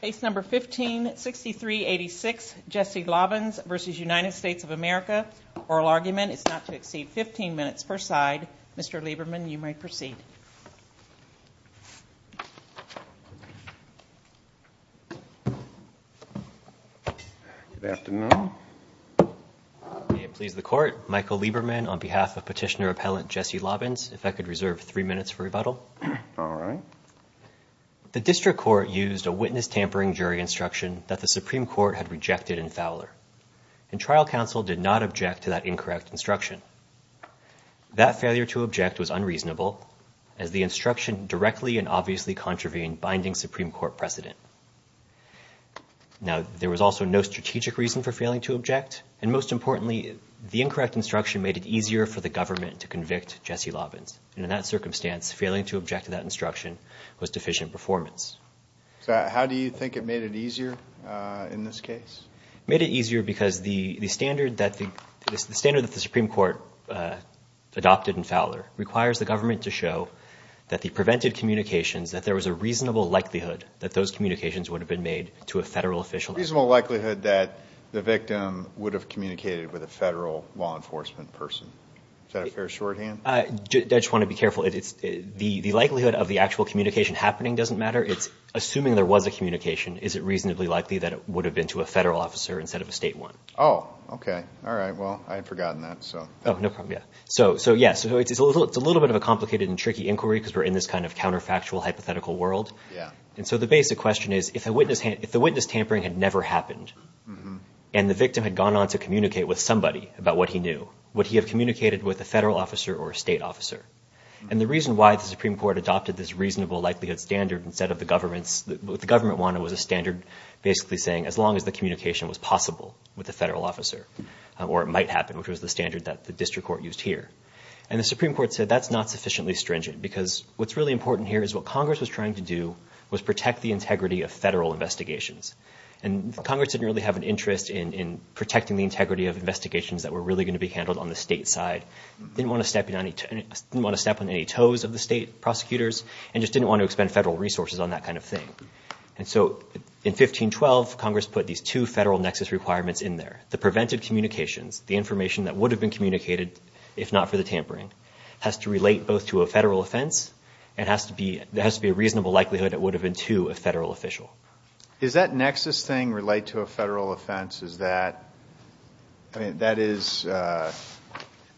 Case No. 15-6386, Jesse Lobbins v. United States of America. Oral argument is not to exceed 15 minutes per side. Mr. Lieberman, you may proceed. Good afternoon. May it please the Court, Michael Lieberman on behalf of Petitioner-Appellant Jesse Lobbins. If I could reserve three minutes for rebuttal. All right. The district court used a witness tampering jury instruction that the Supreme Court had rejected in Fowler. And trial counsel did not object to that incorrect instruction. That failure to object was unreasonable as the instruction directly and obviously contravened binding Supreme Court precedent. Now, there was also no strategic reason for failing to object. And most importantly, the incorrect instruction made it easier for the government to convict Jesse Lobbins. And in that circumstance, failing to object to that instruction was deficient performance. How do you think it made it easier in this case? It made it easier because the standard that the Supreme Court adopted in Fowler requires the government to show that the prevented communications, that there was a reasonable likelihood that those communications would have been made to a federal official. A reasonable likelihood that the victim would have communicated with a federal law enforcement person. Is that a fair shorthand? I just want to be careful. The likelihood of the actual communication happening doesn't matter. Assuming there was a communication, is it reasonably likely that it would have been to a federal officer instead of a state one? Oh, okay. All right. Well, I had forgotten that. Oh, no problem. Yeah. So, yeah, it's a little bit of a complicated and tricky inquiry because we're in this kind of counterfactual hypothetical world. Yeah. And so the basic question is, if the witness tampering had never happened and the victim had gone on to communicate with a federal officer or a state officer. And the reason why the Supreme Court adopted this reasonable likelihood standard instead of the government's, what the government wanted was a standard basically saying as long as the communication was possible with a federal officer or it might happen, which was the standard that the district court used here. And the Supreme Court said that's not sufficiently stringent because what's really important here is what Congress was trying to do was protect the integrity of federal investigations. And Congress didn't really have an interest in protecting the integrity of investigations that were really going to be handled on the state side, didn't want to step on any toes of the state prosecutors, and just didn't want to expend federal resources on that kind of thing. And so in 1512, Congress put these two federal nexus requirements in there. The prevented communications, the information that would have been communicated if not for the tampering, has to relate both to a federal offense and there has to be a reasonable likelihood it would have been to a federal official. Is that nexus thing relate to a federal offense? Is that, I mean, that is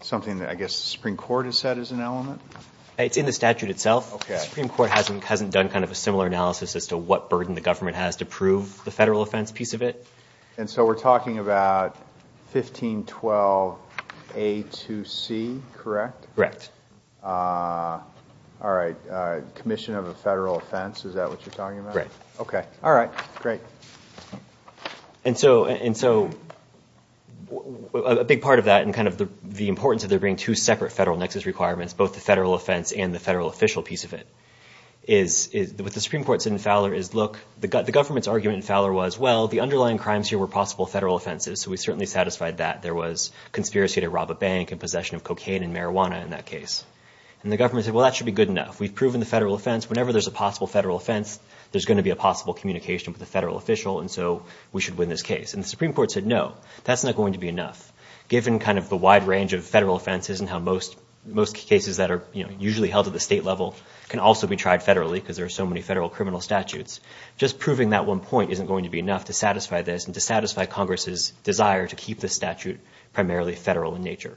something that I guess the Supreme Court has said is an element? It's in the statute itself. Okay. The Supreme Court hasn't done kind of a similar analysis as to what burden the government has to prove the federal offense piece of it. And so we're talking about 1512 A to C, correct? Correct. All right. Commission of a federal offense, is that what you're talking about? Correct. Okay. All right. Great. And so a big part of that and kind of the importance of there being two separate federal nexus requirements, both the federal offense and the federal official piece of it, is what the Supreme Court said in Fowler is, look, the government's argument in Fowler was, well, the underlying crimes here were possible federal offenses, so we certainly satisfied that. There was conspiracy to rob a bank and possession of cocaine and marijuana in that case. And the government said, well, that should be good enough. We've proven the federal offense. Whenever there's a possible federal offense, there's going to be a possible communication with a federal official, and so we should win this case. And the Supreme Court said, no, that's not going to be enough. Given kind of the wide range of federal offenses and how most cases that are usually held at the state level can also be tried federally because there are so many federal criminal statutes, just proving that one point isn't going to be enough to satisfy this and to satisfy Congress's desire to keep the statute primarily federal in nature.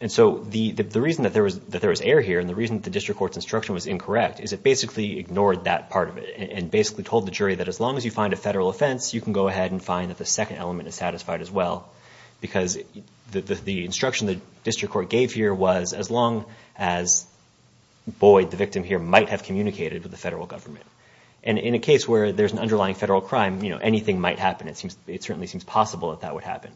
And so the reason that there was error here and the reason the district court's instruction was incorrect is it basically ignored that part of it and basically told the jury that as long as you find a federal offense, you can go ahead and find that the second element is satisfied as well because the instruction the district court gave here was as long as Boyd, the victim here, might have communicated with the federal government. And in a case where there's an underlying federal crime, you know, anything might happen. It certainly seems possible that that would happen.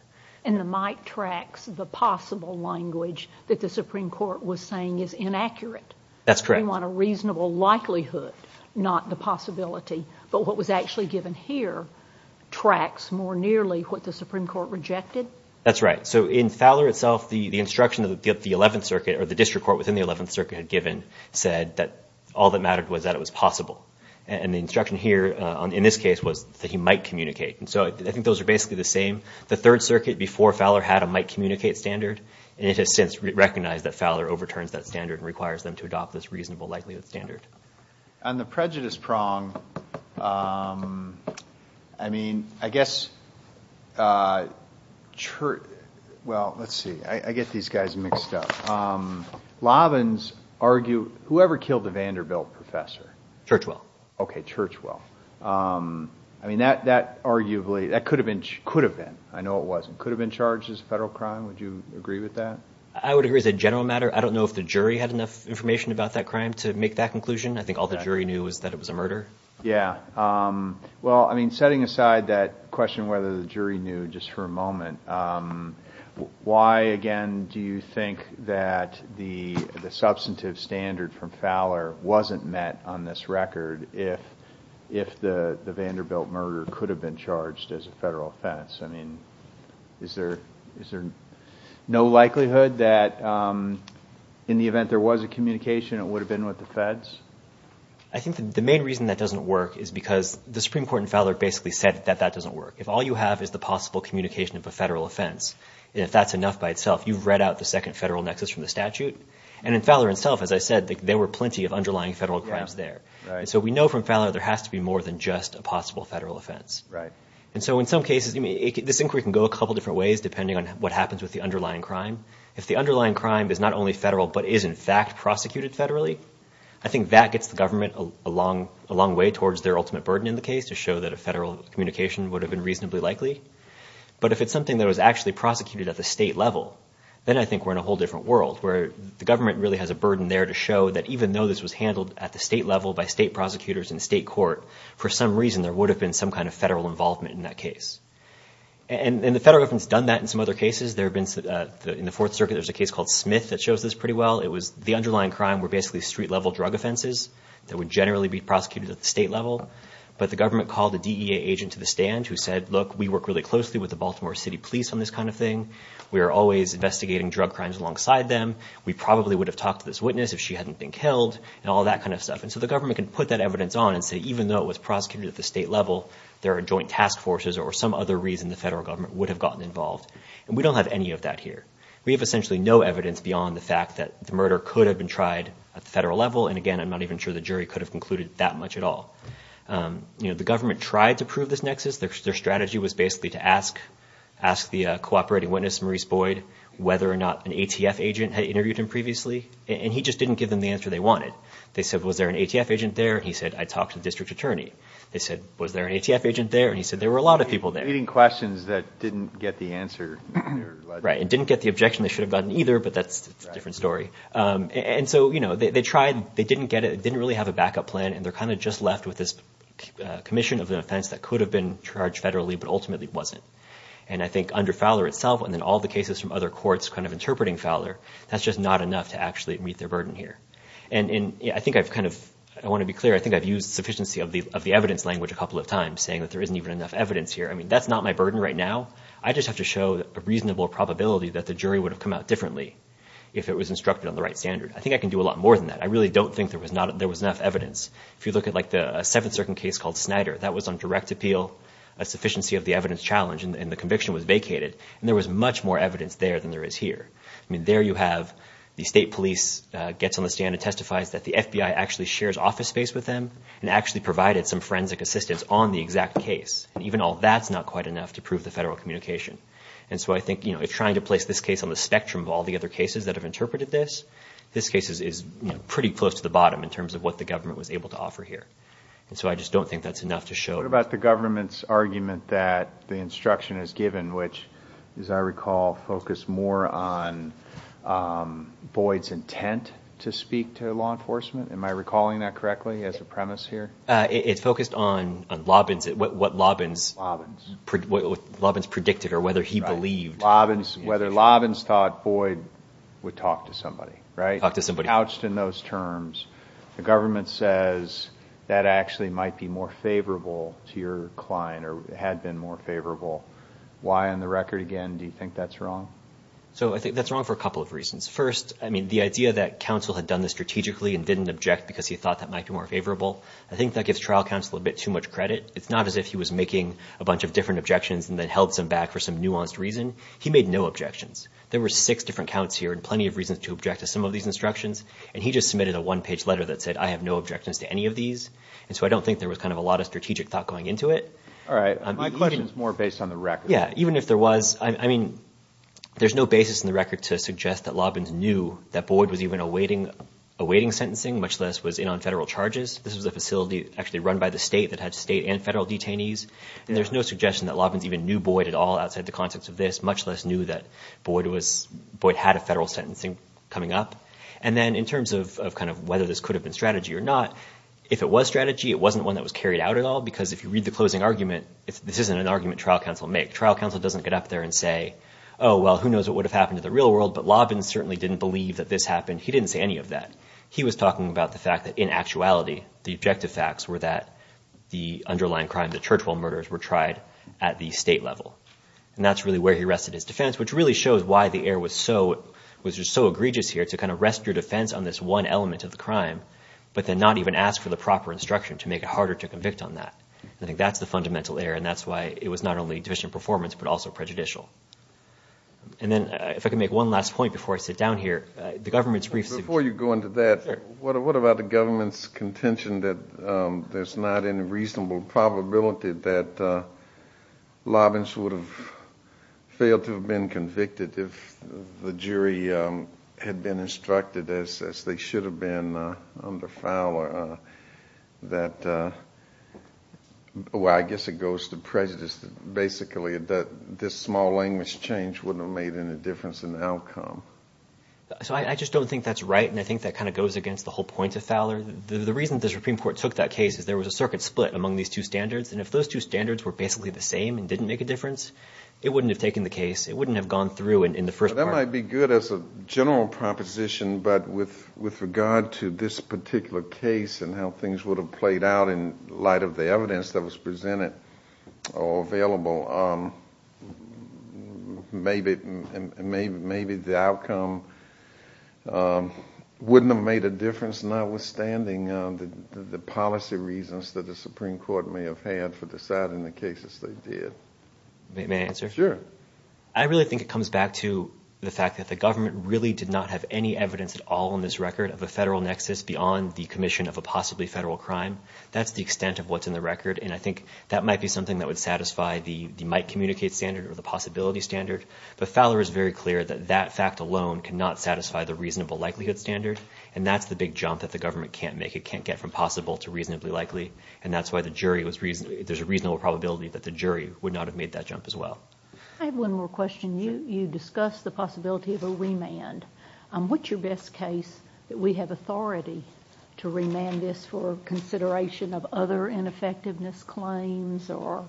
And the might tracks the possible language that the Supreme Court was saying is inaccurate. That's correct. We want a reasonable likelihood, not the possibility. But what was actually given here tracks more nearly what the Supreme Court rejected. That's right. So in Fowler itself, the instruction that the 11th Circuit or the district court within the 11th Circuit had given said that all that mattered was that it was possible. And the instruction here in this case was that he might communicate. And so I think those are basically the same. The 3rd Circuit before Fowler had a might communicate standard, and it has since recognized that Fowler overturns that standard and requires them to adopt this reasonable likelihood standard. On the prejudice prong, I mean, I guess, well, let's see. I get these guys mixed up. Lovins argued whoever killed the Vanderbilt professor. Churchwell. Okay, Churchwell. I mean, that arguably could have been. I know it wasn't. Could have been charged as a federal crime. Would you agree with that? I would agree as a general matter. I don't know if the jury had enough information about that crime to make that conclusion. I think all the jury knew was that it was a murder. Yeah. Well, I mean, setting aside that question whether the jury knew just for a moment, why, again, do you think that the substantive standard from Fowler wasn't met on this record if the Vanderbilt murder could have been charged as a federal offense? I mean, is there no likelihood that in the event there was a communication, it would have been with the feds? I think the main reason that doesn't work is because the Supreme Court in Fowler basically said that that doesn't work. If all you have is the possible communication of a federal offense, if that's enough by itself, you've read out the second federal nexus from the statute. And in Fowler itself, as I said, there were plenty of underlying federal crimes there. So we know from Fowler there has to be more than just a possible federal offense. And so in some cases, this inquiry can go a couple different ways depending on what happens with the underlying crime. If the underlying crime is not only federal but is in fact prosecuted federally, I think that gets the government a long way towards their ultimate burden in the case to show that a federal communication would have been reasonably likely. But if it's something that was actually prosecuted at the state level, then I think we're in a whole different world where the government really has a burden there to show that even though this was handled at the state level by state prosecutors and state court, for some reason there would have been some kind of federal involvement in that case. And the federal government's done that in some other cases. There have been in the Fourth Circuit, there's a case called Smith that shows this pretty well. The underlying crime were basically street-level drug offenses that would generally be prosecuted at the state level. But the government called a DEA agent to the stand who said, look, we work really closely with the Baltimore City Police on this kind of thing. We are always investigating drug crimes alongside them. We probably would have talked to this witness if she hadn't been killed and all that kind of stuff. And so the government can put that evidence on and say even though it was prosecuted at the state level, there are joint task forces or some other reason the federal government would have gotten involved. And we don't have any of that here. We have essentially no evidence beyond the fact that the murder could have been tried at the federal level. And again, I'm not even sure the jury could have concluded that much at all. You know, the government tried to prove this nexus. Their strategy was basically to ask the cooperating witness, Maurice Boyd, whether or not an ATF agent had interviewed him previously. And he just didn't give them the answer they wanted. They said, was there an ATF agent there? And he said, I talked to the district attorney. They said, was there an ATF agent there? And he said, there were a lot of people there. They were leading questions that didn't get the answer. Right. And didn't get the objection they should have gotten either, but that's a different story. And so, you know, they tried. They didn't get it. They didn't really have a backup plan. And they're kind of just left with this commission of an offense that could have been charged federally, but ultimately wasn't. And I think under Fowler itself, and then all the cases from other courts kind of interpreting Fowler, that's just not enough to actually meet their burden here. And I think I've kind of – I want to be clear. I think I've used sufficiency of the evidence language a couple of times, saying that there isn't even enough evidence here. I mean, that's not my burden right now. I just have to show a reasonable probability that the jury would have come out differently if it was instructed on the right standard. I think I can do a lot more than that. I really don't think there was enough evidence. If you look at, like, the Seventh Circuit case called Snyder, that was on direct appeal, a sufficiency of the evidence challenge, and the conviction was vacated. And there was much more evidence there than there is here. I mean, there you have the state police gets on the stand and testifies that the FBI actually shares office space with them and actually provided some forensic assistance on the exact case. And even all that's not quite enough to prove the federal communication. And so I think, you know, if trying to place this case on the spectrum of all the other cases that have interpreted this, this case is pretty close to the bottom in terms of what the government was able to offer here. And so I just don't think that's enough to show. What about the government's argument that the instruction is given, which, as I recall, focused more on Boyd's intent to speak to law enforcement? Am I recalling that correctly as a premise here? It's focused on what Lobbins predicted or whether he believed. Whether Lobbins thought Boyd would talk to somebody, right? Talk to somebody. If you're couched in those terms, the government says that actually might be more favorable to your client or had been more favorable. Why on the record, again, do you think that's wrong? So I think that's wrong for a couple of reasons. First, I mean, the idea that counsel had done this strategically and didn't object because he thought that might be more favorable, I think that gives trial counsel a bit too much credit. It's not as if he was making a bunch of different objections and then held some back for some nuanced reason. He made no objections. There were six different counts here and there were plenty of reasons to object to some of these instructions. And he just submitted a one-page letter that said, I have no objections to any of these. And so I don't think there was kind of a lot of strategic thought going into it. All right. My question is more based on the record. Yeah, even if there was, I mean, there's no basis in the record to suggest that Lobbins knew that Boyd was even awaiting sentencing, much less was in on federal charges. This was a facility actually run by the state that had state and federal detainees. There's no suggestion that Lobbins even knew Boyd at all outside the context of this, much less knew that Boyd had a federal sentencing coming up. And then in terms of kind of whether this could have been strategy or not, if it was strategy, it wasn't one that was carried out at all because if you read the closing argument, this isn't an argument trial counsel make. Trial counsel doesn't get up there and say, oh, well, who knows what would have happened to the real world, but Lobbins certainly didn't believe that this happened. He didn't say any of that. He was talking about the fact that in actuality, the objective facts were that the underlying crime, the Churchill murders, were tried at the state level. And that's really where he rested his defense, which really shows why the error was so egregious here to kind of rest your defense on this one element of the crime, but then not even ask for the proper instruction to make it harder to convict on that. I think that's the fundamental error, and that's why it was not only deficient performance, but also prejudicial. And then if I can make one last point before I sit down here, the government's briefs... Before you go into that, what about the government's contention that there's not any reasonable probability that Lobbins would have failed to have been convicted if the jury had been instructed, as they should have been under Fowler, that, well, I guess it goes to prejudice basically that this small language change wouldn't have made any difference in the outcome. So I just don't think that's right, and I think that kind of goes against the whole point of Fowler. The reason the Supreme Court took that case is there was a circuit split among these two standards, and if those two standards were basically the same and didn't make a difference, it wouldn't have taken the case. It wouldn't have gone through in the first part. That might be good as a general proposition, but with regard to this particular case and how things would have played out in light of the evidence that was presented or available, maybe the outcome wouldn't have made a difference, notwithstanding the policy reasons that the Supreme Court may have had for deciding the cases they did. May I answer? Sure. I really think it comes back to the fact that the government really did not have any evidence at all in this record of a federal nexus beyond the commission of a possibly federal crime. That's the extent of what's in the record, and I think that might be something that would satisfy the might-communicate standard or the possibility standard, but Fowler is very clear that that fact alone cannot satisfy the reasonable-likelihood standard, and that's the big jump that the government can't make. And that's why there's a reasonable probability that the jury would not have made that jump as well. I have one more question. You discussed the possibility of a remand. What's your best case that we have authority to remand this for consideration of other ineffectiveness claims or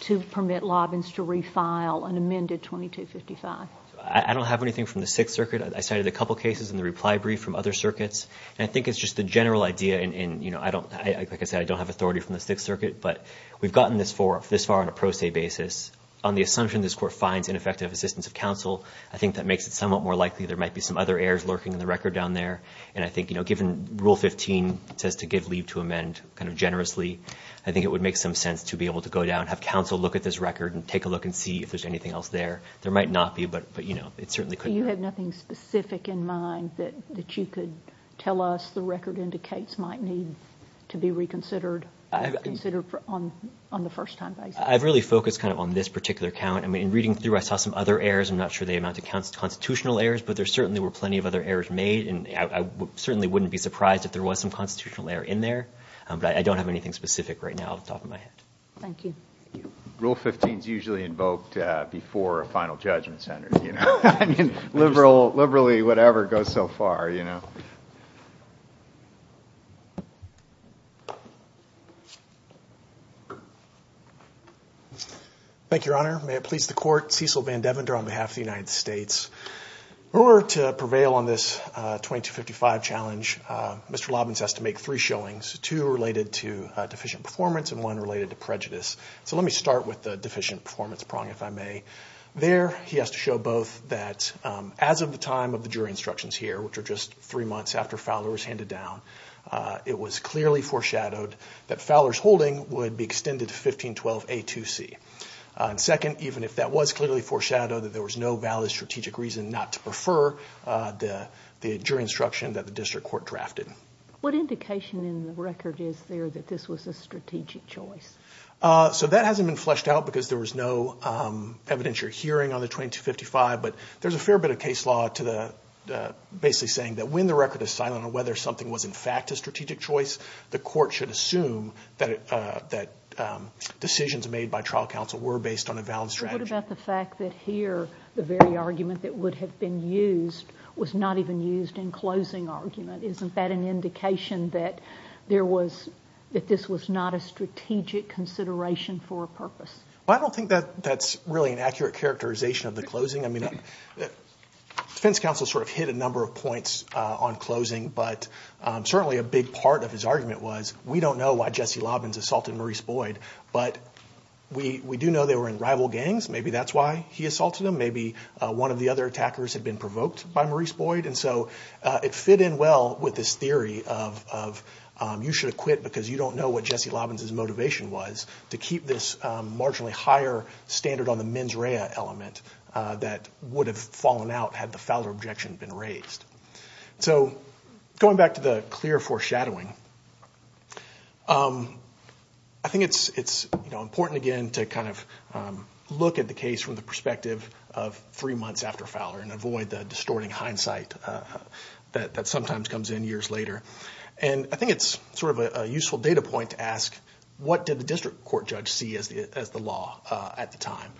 to permit lobbying to refile an amended 2255? I don't have anything from the Sixth Circuit. I cited a couple cases in the reply brief from other circuits, and I think it's just the general idea in, you know, like I said, I don't have authority from the Sixth Circuit, but we've gotten this far on a pro se basis. On the assumption this Court finds ineffective assistance of counsel, I think that makes it somewhat more likely there might be some other errors lurking in the record down there, and I think, you know, given Rule 15 says to give leave to amend kind of generously, I think it would make some sense to be able to go down, have counsel look at this record and take a look and see if there's anything else there. There might not be, but, you know, it certainly could be. Do you have nothing specific in mind that you could tell us the record indicates might need to be reconsidered on the first time basis? I've really focused kind of on this particular count. I mean, in reading through, I saw some other errors. I'm not sure they amount to constitutional errors, but there certainly were plenty of other errors made, and I certainly wouldn't be surprised if there was some constitutional error in there, but I don't have anything specific right now off the top of my head. Thank you. Rule 15 is usually invoked before a final judgment center, you know. I mean, liberally, whatever goes so far, you know. Thank you, Your Honor. May it please the Court, Cecil Van Devender on behalf of the United States. In order to prevail on this 2255 challenge, Mr. Lobbins has to make three showings, two related to deficient performance and one related to prejudice. So let me start with the deficient performance prong, if I may. There, he has to show both that as of the time of the jury instructions here, which are just three months after Fowler was handed down, it was clearly foreshadowed that Fowler's holding would be extended to 1512A2C. Second, even if that was clearly foreshadowed that there was no valid strategic reason not to prefer the jury instruction that the district court drafted. What indication in the record is there that this was a strategic choice? So that hasn't been fleshed out because there was no evidentiary hearing on the 2255, but there's a fair bit of case law basically saying that when the record is silent on whether something was in fact a strategic choice, the court should assume that decisions made by trial counsel were based on a valid strategy. What about the fact that here, the very argument that would have been used was not even used in closing argument? Isn't that an indication that there was, that this was not a strategic consideration for a purpose? Well, I don't think that that's really an accurate characterization of the closing. I mean, defense counsel sort of hit a number of points on closing, but certainly a big part of his argument was, we don't know why Jesse Lobbins assaulted Maurice Boyd, but we do know they were in rival gangs. Maybe that's why he assaulted him. Maybe one of the other attackers had been provoked by Maurice Boyd. And so it fit in well with this theory of, you should have quit because you don't know what Jesse Lobbins' motivation was to keep this marginally higher standard on the mens rea element that would have fallen out had the Fowler objection been raised. So going back to the clear foreshadowing, I think it's important, again, to kind of look at the case from the perspective of three months after Fowler and avoid the distorting hindsight that sometimes comes in years later. And I think it's sort of a useful data point to ask, what did the district court judge see as the law at the time?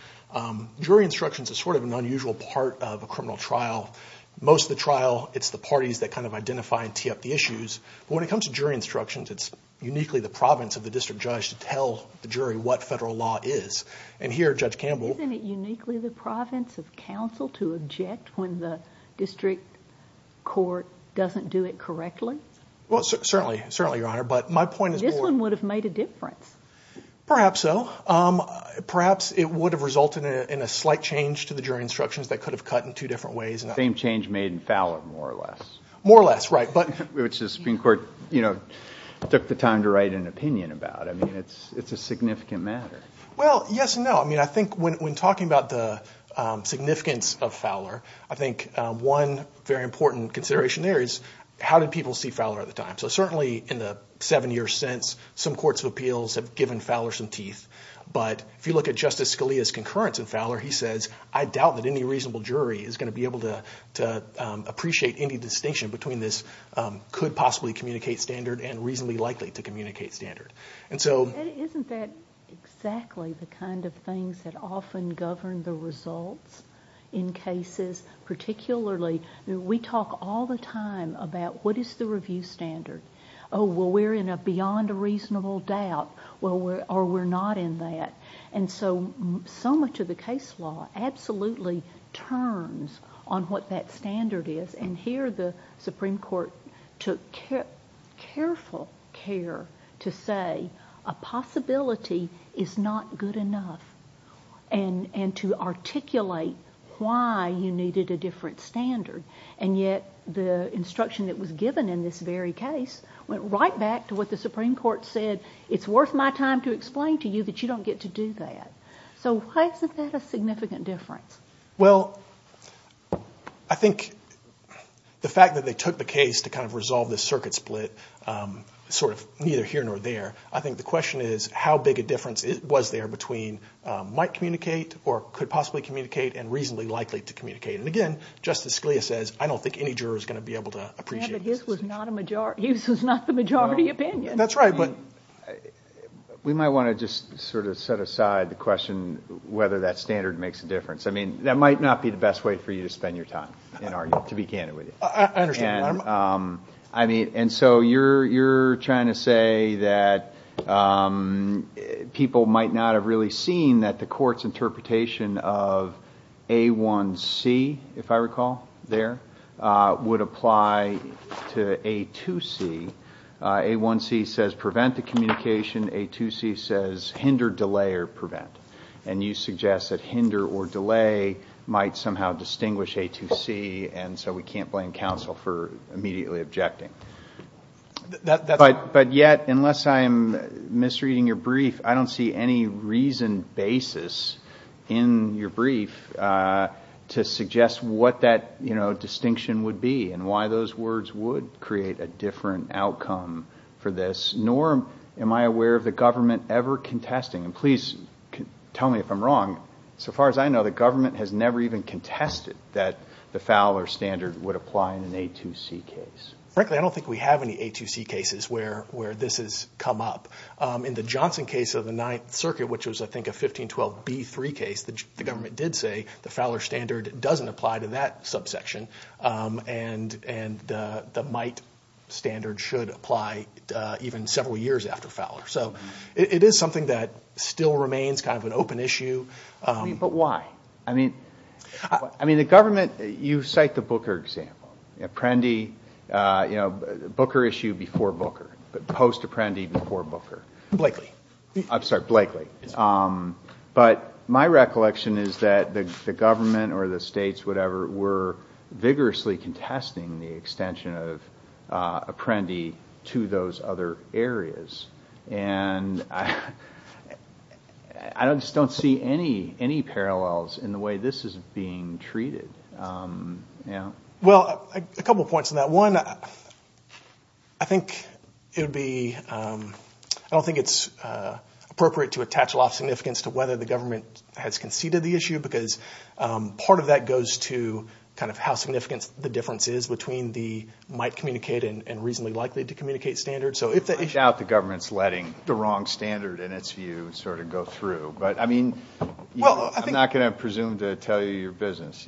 Jury instructions is sort of an unusual part of a criminal trial. Most of the trial, it's the parties that kind of identify and tee up the issues. But when it comes to jury instructions, it's uniquely the province of the district judge to tell the jury what federal law is. And here, Judge Campbell— Does that affect when the district court doesn't do it correctly? Well, certainly, Your Honor. But my point is— This one would have made a difference. Perhaps so. Perhaps it would have resulted in a slight change to the jury instructions that could have cut in two different ways. Same change made in Fowler, more or less. More or less, right. Which the Supreme Court took the time to write an opinion about. I mean, it's a significant matter. Well, yes and no. I mean, I think when talking about the significance of Fowler, I think one very important consideration there is how did people see Fowler at the time? So certainly in the seven years since, some courts of appeals have given Fowler some teeth. But if you look at Justice Scalia's concurrence in Fowler, he says, I doubt that any reasonable jury is going to be able to appreciate any distinction between this could-possibly-communicate standard and reasonably-likely-to-communicate standard. Isn't that exactly the kind of things that often govern the results in cases? Particularly, we talk all the time about what is the review standard. Oh, well, we're in a beyond-a-reasonable-doubt, or we're not in that. And so, so much of the case law absolutely turns on what that standard is. And here the Supreme Court took careful care to say, a possibility is not good enough, and to articulate why you needed a different standard. And yet the instruction that was given in this very case went right back to what the Supreme Court said, it's worth my time to explain to you that you don't get to do that. So why isn't that a significant difference? Well, I think the fact that they took the case to kind of resolve this circuit split, sort of neither here nor there, I think the question is how big a difference was there between might-communicate or could-possibly-communicate and reasonably-likely-to-communicate. And again, Justice Scalia says, I don't think any juror is going to be able to appreciate this distinction. But his was not the majority opinion. That's right, but we might want to just sort of set aside the question whether that standard makes a difference. I mean, that might not be the best way for you to spend your time, to be candid with you. I understand. And so you're trying to say that people might not have really seen that the court's interpretation of A1C, if I recall there, would apply to A2C. A1C says prevent the communication. A2C says hinder, delay, or prevent. And you suggest that hinder or delay might somehow distinguish A2C, and so we can't blame counsel for immediately objecting. But yet, unless I'm misreading your brief, I don't see any reasoned basis in your brief to suggest what that, you know, distinction would be and why those words would create a different outcome for this, nor am I aware of the government ever contesting. And please tell me if I'm wrong. So far as I know, the government has never even contested that the Fowler standard would apply in an A2C case. Frankly, I don't think we have any A2C cases where this has come up. In the Johnson case of the Ninth Circuit, which was, I think, a 1512B3 case, the government did say the Fowler standard doesn't apply to that subsection and the might standard should apply even several years after Fowler. So it is something that still remains kind of an open issue. But why? I mean, the government, you cite the Booker example. Apprendi, you know, Booker issue before Booker. Post-Apprendi before Booker. Blakely. I'm sorry, Blakely. But my recollection is that the government or the states, whatever, were vigorously contesting the extension of Apprendi to those other areas. And I just don't see any parallels in the way this is being treated. Well, a couple of points on that. One, I think it would be ‑‑ I don't think it's appropriate to attach a lot of significance to whether the government has conceded the issue because part of that goes to kind of how significant the difference is between the might communicate and reasonably likely to communicate standard. I doubt the government is letting the wrong standard, in its view, sort of go through. But, I mean, I'm not going to presume to tell you your business.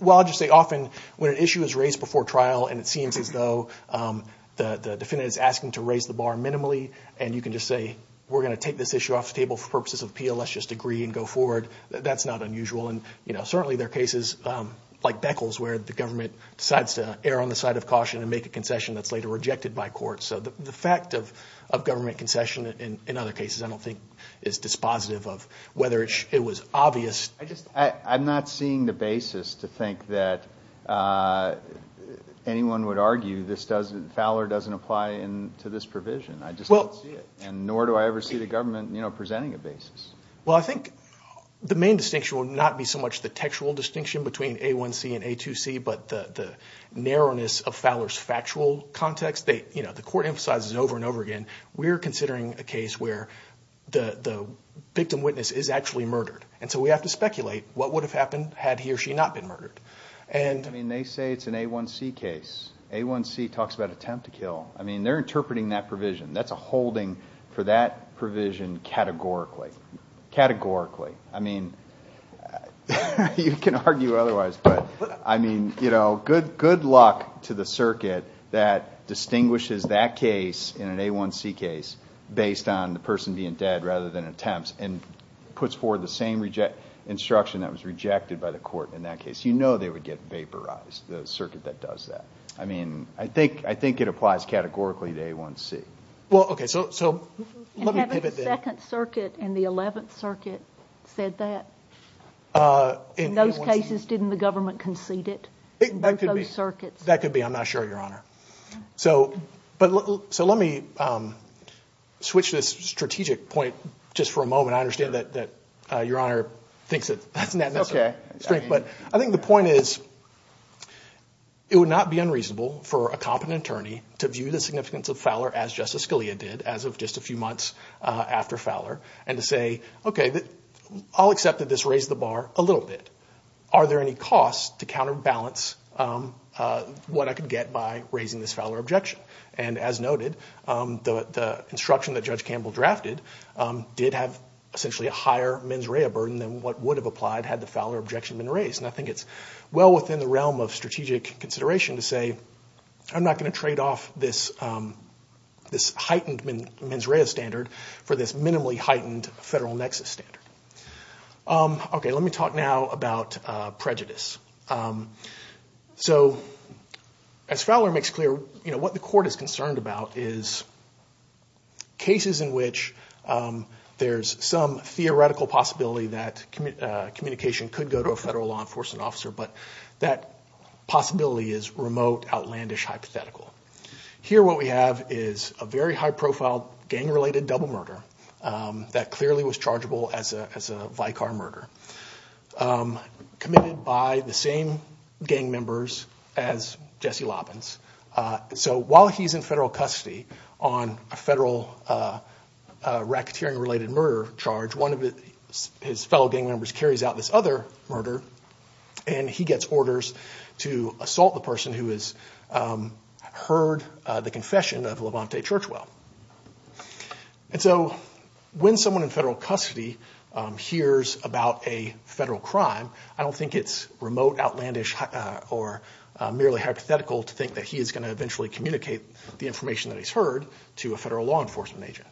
Well, I'll just say often when an issue is raised before trial and it seems as though the defendant is asking to raise the bar minimally and you can just say we're going to take this issue off the table for purposes of appeal, let's just agree and go forward, that's not unusual and certainly there are cases like Beckles where the government decides to err on the side of caution and make a concession that's later rejected by court. So the fact of government concession in other cases I don't think is dispositive of whether it was obvious. I'm not seeing the basis to think that anyone would argue this doesn't ‑‑ Fowler doesn't apply to this provision. I just don't see it. And nor do I ever see the government presenting a basis. Well, I think the main distinction would not be so much the textual distinction between A1C and A2C but the narrowness of Fowler's factual context. The court emphasizes it over and over again. We're considering a case where the victim witness is actually murdered and so we have to speculate what would have happened had he or she not been murdered. I mean, they say it's an A1C case. A1C talks about attempt to kill. I mean, they're interpreting that provision. That's a holding for that provision categorically. Categorically. I mean, you can argue otherwise but, I mean, you know, good luck to the circuit that distinguishes that case in an A1C case based on the person being dead rather than attempts and puts forward the same instruction that was rejected by the court in that case. You know they would get vaporized, the circuit that does that. I mean, I think it applies categorically to A1C. Well, okay, so let me pivot then. And have the 2nd Circuit and the 11th Circuit said that? In those cases didn't the government concede it? That could be. Those circuits. That could be. I'm not sure, Your Honor. So let me switch to this strategic point just for a moment. I understand that Your Honor thinks that that's not necessary. I think the point is it would not be unreasonable for a competent attorney to view the significance of Fowler as Justice Scalia did as of just a few months after Fowler and to say, okay, I'll accept that this raised the bar a little bit. Are there any costs to counterbalance what I could get by raising this Fowler objection? And as noted, the instruction that Judge Campbell drafted did have essentially a higher mens rea burden than what would have applied had the Fowler objection been raised. And I think it's well within the realm of strategic consideration to say, I'm not going to trade off this heightened mens rea standard for this minimally heightened federal nexus standard. Okay, let me talk now about prejudice. So as Fowler makes clear, what the Court is concerned about is cases in which there's some theoretical possibility that communication could go to a federal law enforcement officer, but that possibility is remote, outlandish, hypothetical. Here what we have is a very high-profile gang-related double murder that clearly was chargeable as a Vicar murder committed by the same gang members as Jesse Loppins. So while he's in federal custody on a federal racketeering-related murder charge, one of his fellow gang members carries out this other murder, and he gets orders to assault the person who has heard the confession of Levante Churchwell. And so when someone in federal custody hears about a federal crime, I don't think it's remote, outlandish, or merely hypothetical to think that he is going to eventually communicate the information that he's heard to a federal law enforcement agent.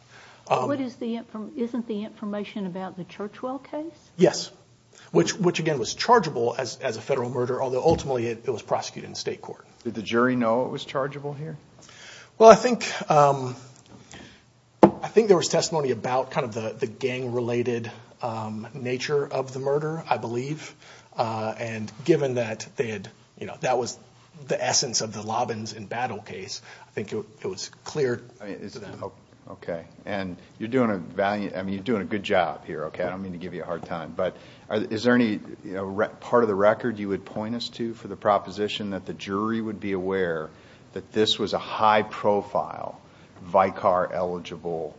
Isn't the information about the Churchwell case? Yes, which again was chargeable as a federal murder, although ultimately it was prosecuted in state court. Did the jury know it was chargeable here? Well, I think there was testimony about kind of the gang-related nature of the murder, I believe, and given that that was the essence of the Loppins and Battle case, I think it was clear to them. Okay, and you're doing a good job here, okay? I don't mean to give you a hard time, but is there any part of the record you would point us to for the proposition that the jury would be aware that this was a high-profile Vicar-eligible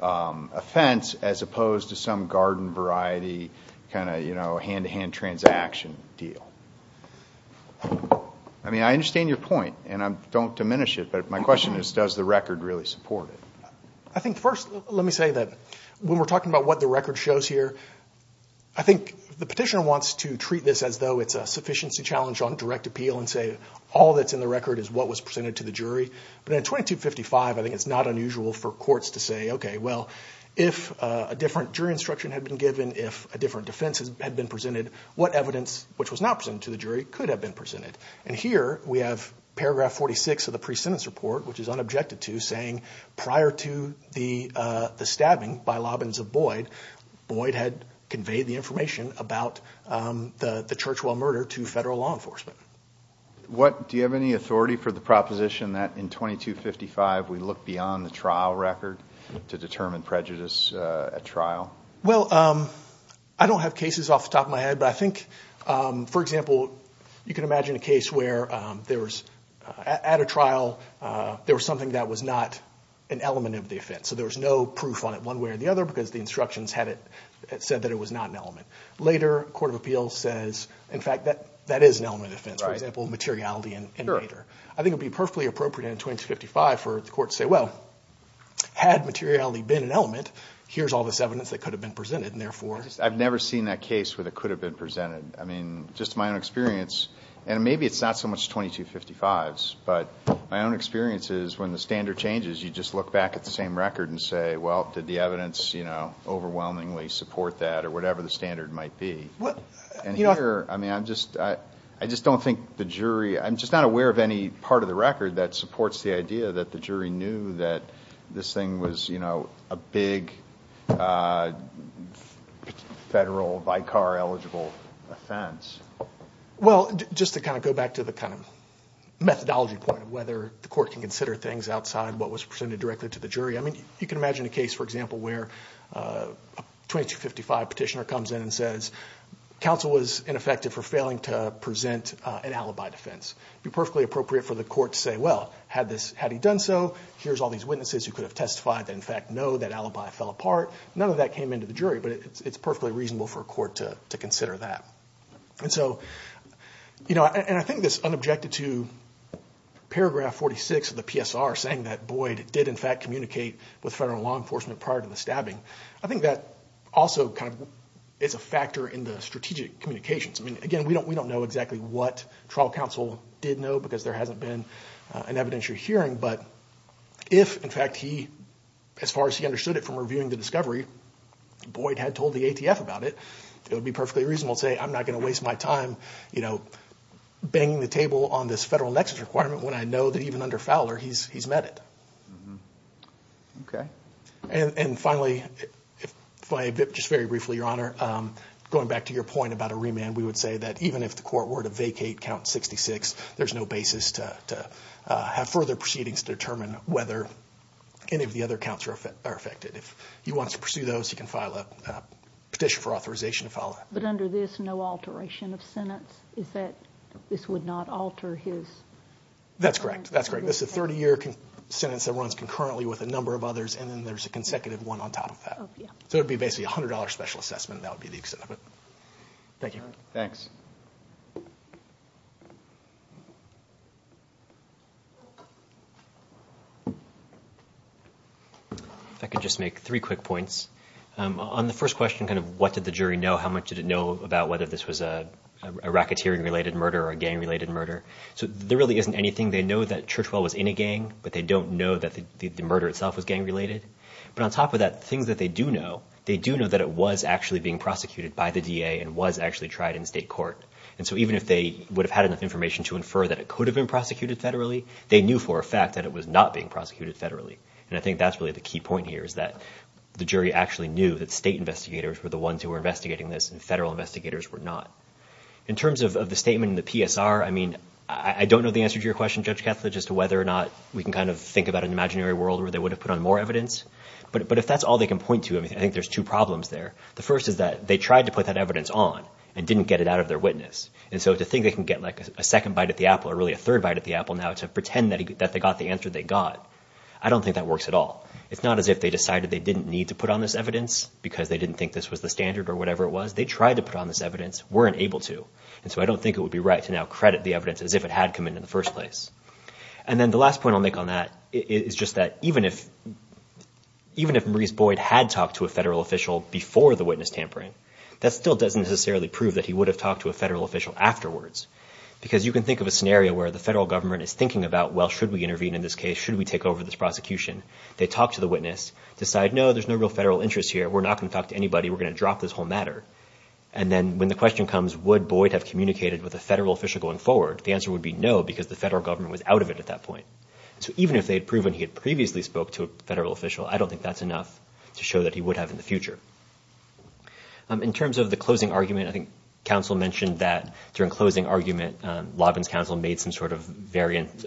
offense as opposed to some garden-variety kind of hand-to-hand transaction deal? I mean, I understand your point, and don't diminish it, but my question is does the record really support it? I think first let me say that when we're talking about what the record shows here, I think the petitioner wants to treat this as though it's a sufficiency challenge on direct appeal and say all that's in the record is what was presented to the jury. But in 2255, I think it's not unusual for courts to say, okay, well, if a different jury instruction had been given, if a different defense had been presented, what evidence which was not presented to the jury could have been presented? And here we have paragraph 46 of the pre-sentence report, which is unobjected to, saying prior to the stabbing by Lobbins of Boyd, Boyd had conveyed the information about the Churchwell murder to federal law enforcement. Do you have any authority for the proposition that in 2255 we look beyond the trial record to determine prejudice at trial? Well, I don't have cases off the top of my head, but I think, for example, you can imagine a case where at a trial there was something that was not an element of the offense. So there was no proof on it one way or the other because the instructions said that it was not an element. Later, a court of appeals says, in fact, that that is an element of the offense. For example, materiality and nature. I think it would be perfectly appropriate in 2255 for the court to say, well, had materiality been an element, here's all this evidence that could have been presented. I've never seen that case where it could have been presented. I mean, just my own experience, and maybe it's not so much 2255s, but my own experience is when the standard changes, you just look back at the same record and say, well, did the evidence, you know, overwhelmingly support that or whatever the standard might be. And here, I mean, I just don't think the jury, I'm just not aware of any part of the record that supports the idea that the jury knew that this thing was, you know, a big federal Vicar-eligible offense. Well, just to kind of go back to the kind of methodology point of whether the court can consider things outside what was presented directly to the jury, I mean, you can imagine a case, for example, where a 2255 petitioner comes in and says, counsel was ineffective for failing to present an alibi defense. It would be perfectly appropriate for the court to say, well, had he done so, here's all these witnesses who could have testified that in fact know that alibi fell apart. None of that came into the jury, but it's perfectly reasonable for a court to consider that. And so, you know, and I think this unobjected to paragraph 46 of the PSR saying that Boyd did in fact communicate with federal law enforcement prior to the stabbing, I think that also kind of is a factor in the strategic communications. I mean, again, we don't know exactly what trial counsel did know because there hasn't been an evidentiary hearing, but if in fact he, as far as he understood it from reviewing the discovery, Boyd had told the ATF about it, it would be perfectly reasonable to say I'm not going to waste my time, you know, banging the table on this federal nexus requirement when I know that even under Fowler he's met it. Okay. And finally, just very briefly, Your Honor, going back to your point about a remand, we would say that even if the court were to vacate count 66, there's no basis to have further proceedings to determine whether any of the other counts are affected. If he wants to pursue those, he can file a petition for authorization to file it. But under this, no alteration of sentence? Is that this would not alter his? That's correct. That's correct. This is a 30-year sentence that runs concurrently with a number of others, and then there's a consecutive one on top of that. So it would be basically a $100 special assessment. That would be the extent of it. Thank you. Thanks. If I could just make three quick points. On the first question, kind of what did the jury know? How much did it know about whether this was a racketeering-related murder or a gang-related murder? So there really isn't anything. They know that Churchwell was in a gang, but they don't know that the murder itself was gang-related. But on top of that, things that they do know, they do know that it was actually being prosecuted by the DA and was actually tried in state court. And so even if they would have had enough information to infer that it could have been prosecuted federally, they knew for a fact that it was not being prosecuted federally. And I think that's really the key point here, is that the jury actually knew that state investigators were the ones who were investigating this and federal investigators were not. In terms of the statement in the PSR, I mean, I don't know the answer to your question, Judge Katzler, as to whether or not we can kind of think about an imaginary world where they would have put on more evidence. But if that's all they can point to, I think there's two problems there. The first is that they tried to put that evidence on and didn't get it out of their witness. And so to think they can get like a second bite at the apple, or really a third bite at the apple now to pretend that they got the answer they got, I don't think that works at all. It's not as if they decided they didn't need to put on this evidence because they didn't think this was the standard or whatever it was. They tried to put on this evidence, weren't able to. And so I don't think it would be right to now credit the evidence as if it had come in in the first place. And then the last point I'll make on that is just that even if Maurice Boyd had talked to a federal official before the witness tampering, that still doesn't necessarily prove that he would have talked to a federal official afterwards. Because you can think of a scenario where the federal government is thinking about, well, should we intervene in this case? Should we take over this prosecution? They talk to the witness, decide, no, there's no real federal interest here. We're not going to talk to anybody. We're going to drop this whole matter. And then when the question comes, would Boyd have communicated with a federal official going forward, the answer would be no because the federal government was out of it at that point. So even if they had proven he had previously spoke to a federal official, I don't think that's enough to show that he would have in the future. In terms of the closing argument, I think counsel mentioned that during closing argument, Lobbins' counsel made some sort of variant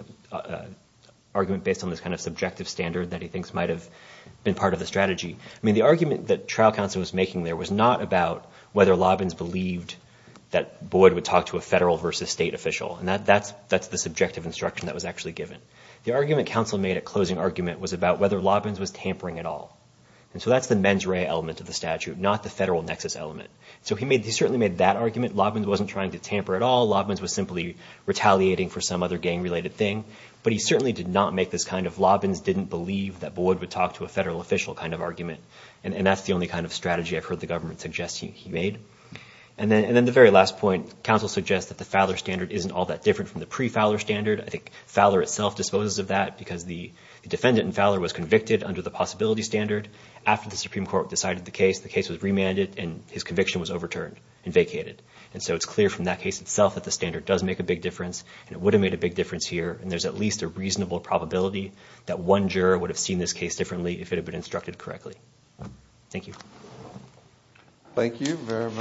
argument based on this kind of subjective standard that he thinks might have been part of the strategy. I mean, the argument that trial counsel was making there was not about whether Lobbins believed that Boyd would talk to a federal versus state official. And that's the subjective instruction that was actually given. The argument counsel made at closing argument was about whether Lobbins was tampering at all. And so that's the mens rea element of the statute, not the federal nexus element. So he certainly made that argument. Lobbins wasn't trying to tamper at all. Lobbins was simply retaliating for some other gang-related thing. But he certainly did not make this kind of Lobbins didn't believe that Boyd would talk to a federal official kind of argument. And that's the only kind of strategy I've heard the government suggest he made. And then the very last point, counsel suggests that the Fowler standard isn't all that different from the pre-Fowler standard. I think Fowler itself disposes of that because the defendant in Fowler was convicted under the possibility standard. After the Supreme Court decided the case, the case was remanded and his conviction was overturned and vacated. And so it's clear from that case itself that the standard does make a big difference and it would have made a big difference here. And there's at least a reasonable probability that one juror would have seen this case differently if it had been instructed correctly. Thank you. Thank you very much.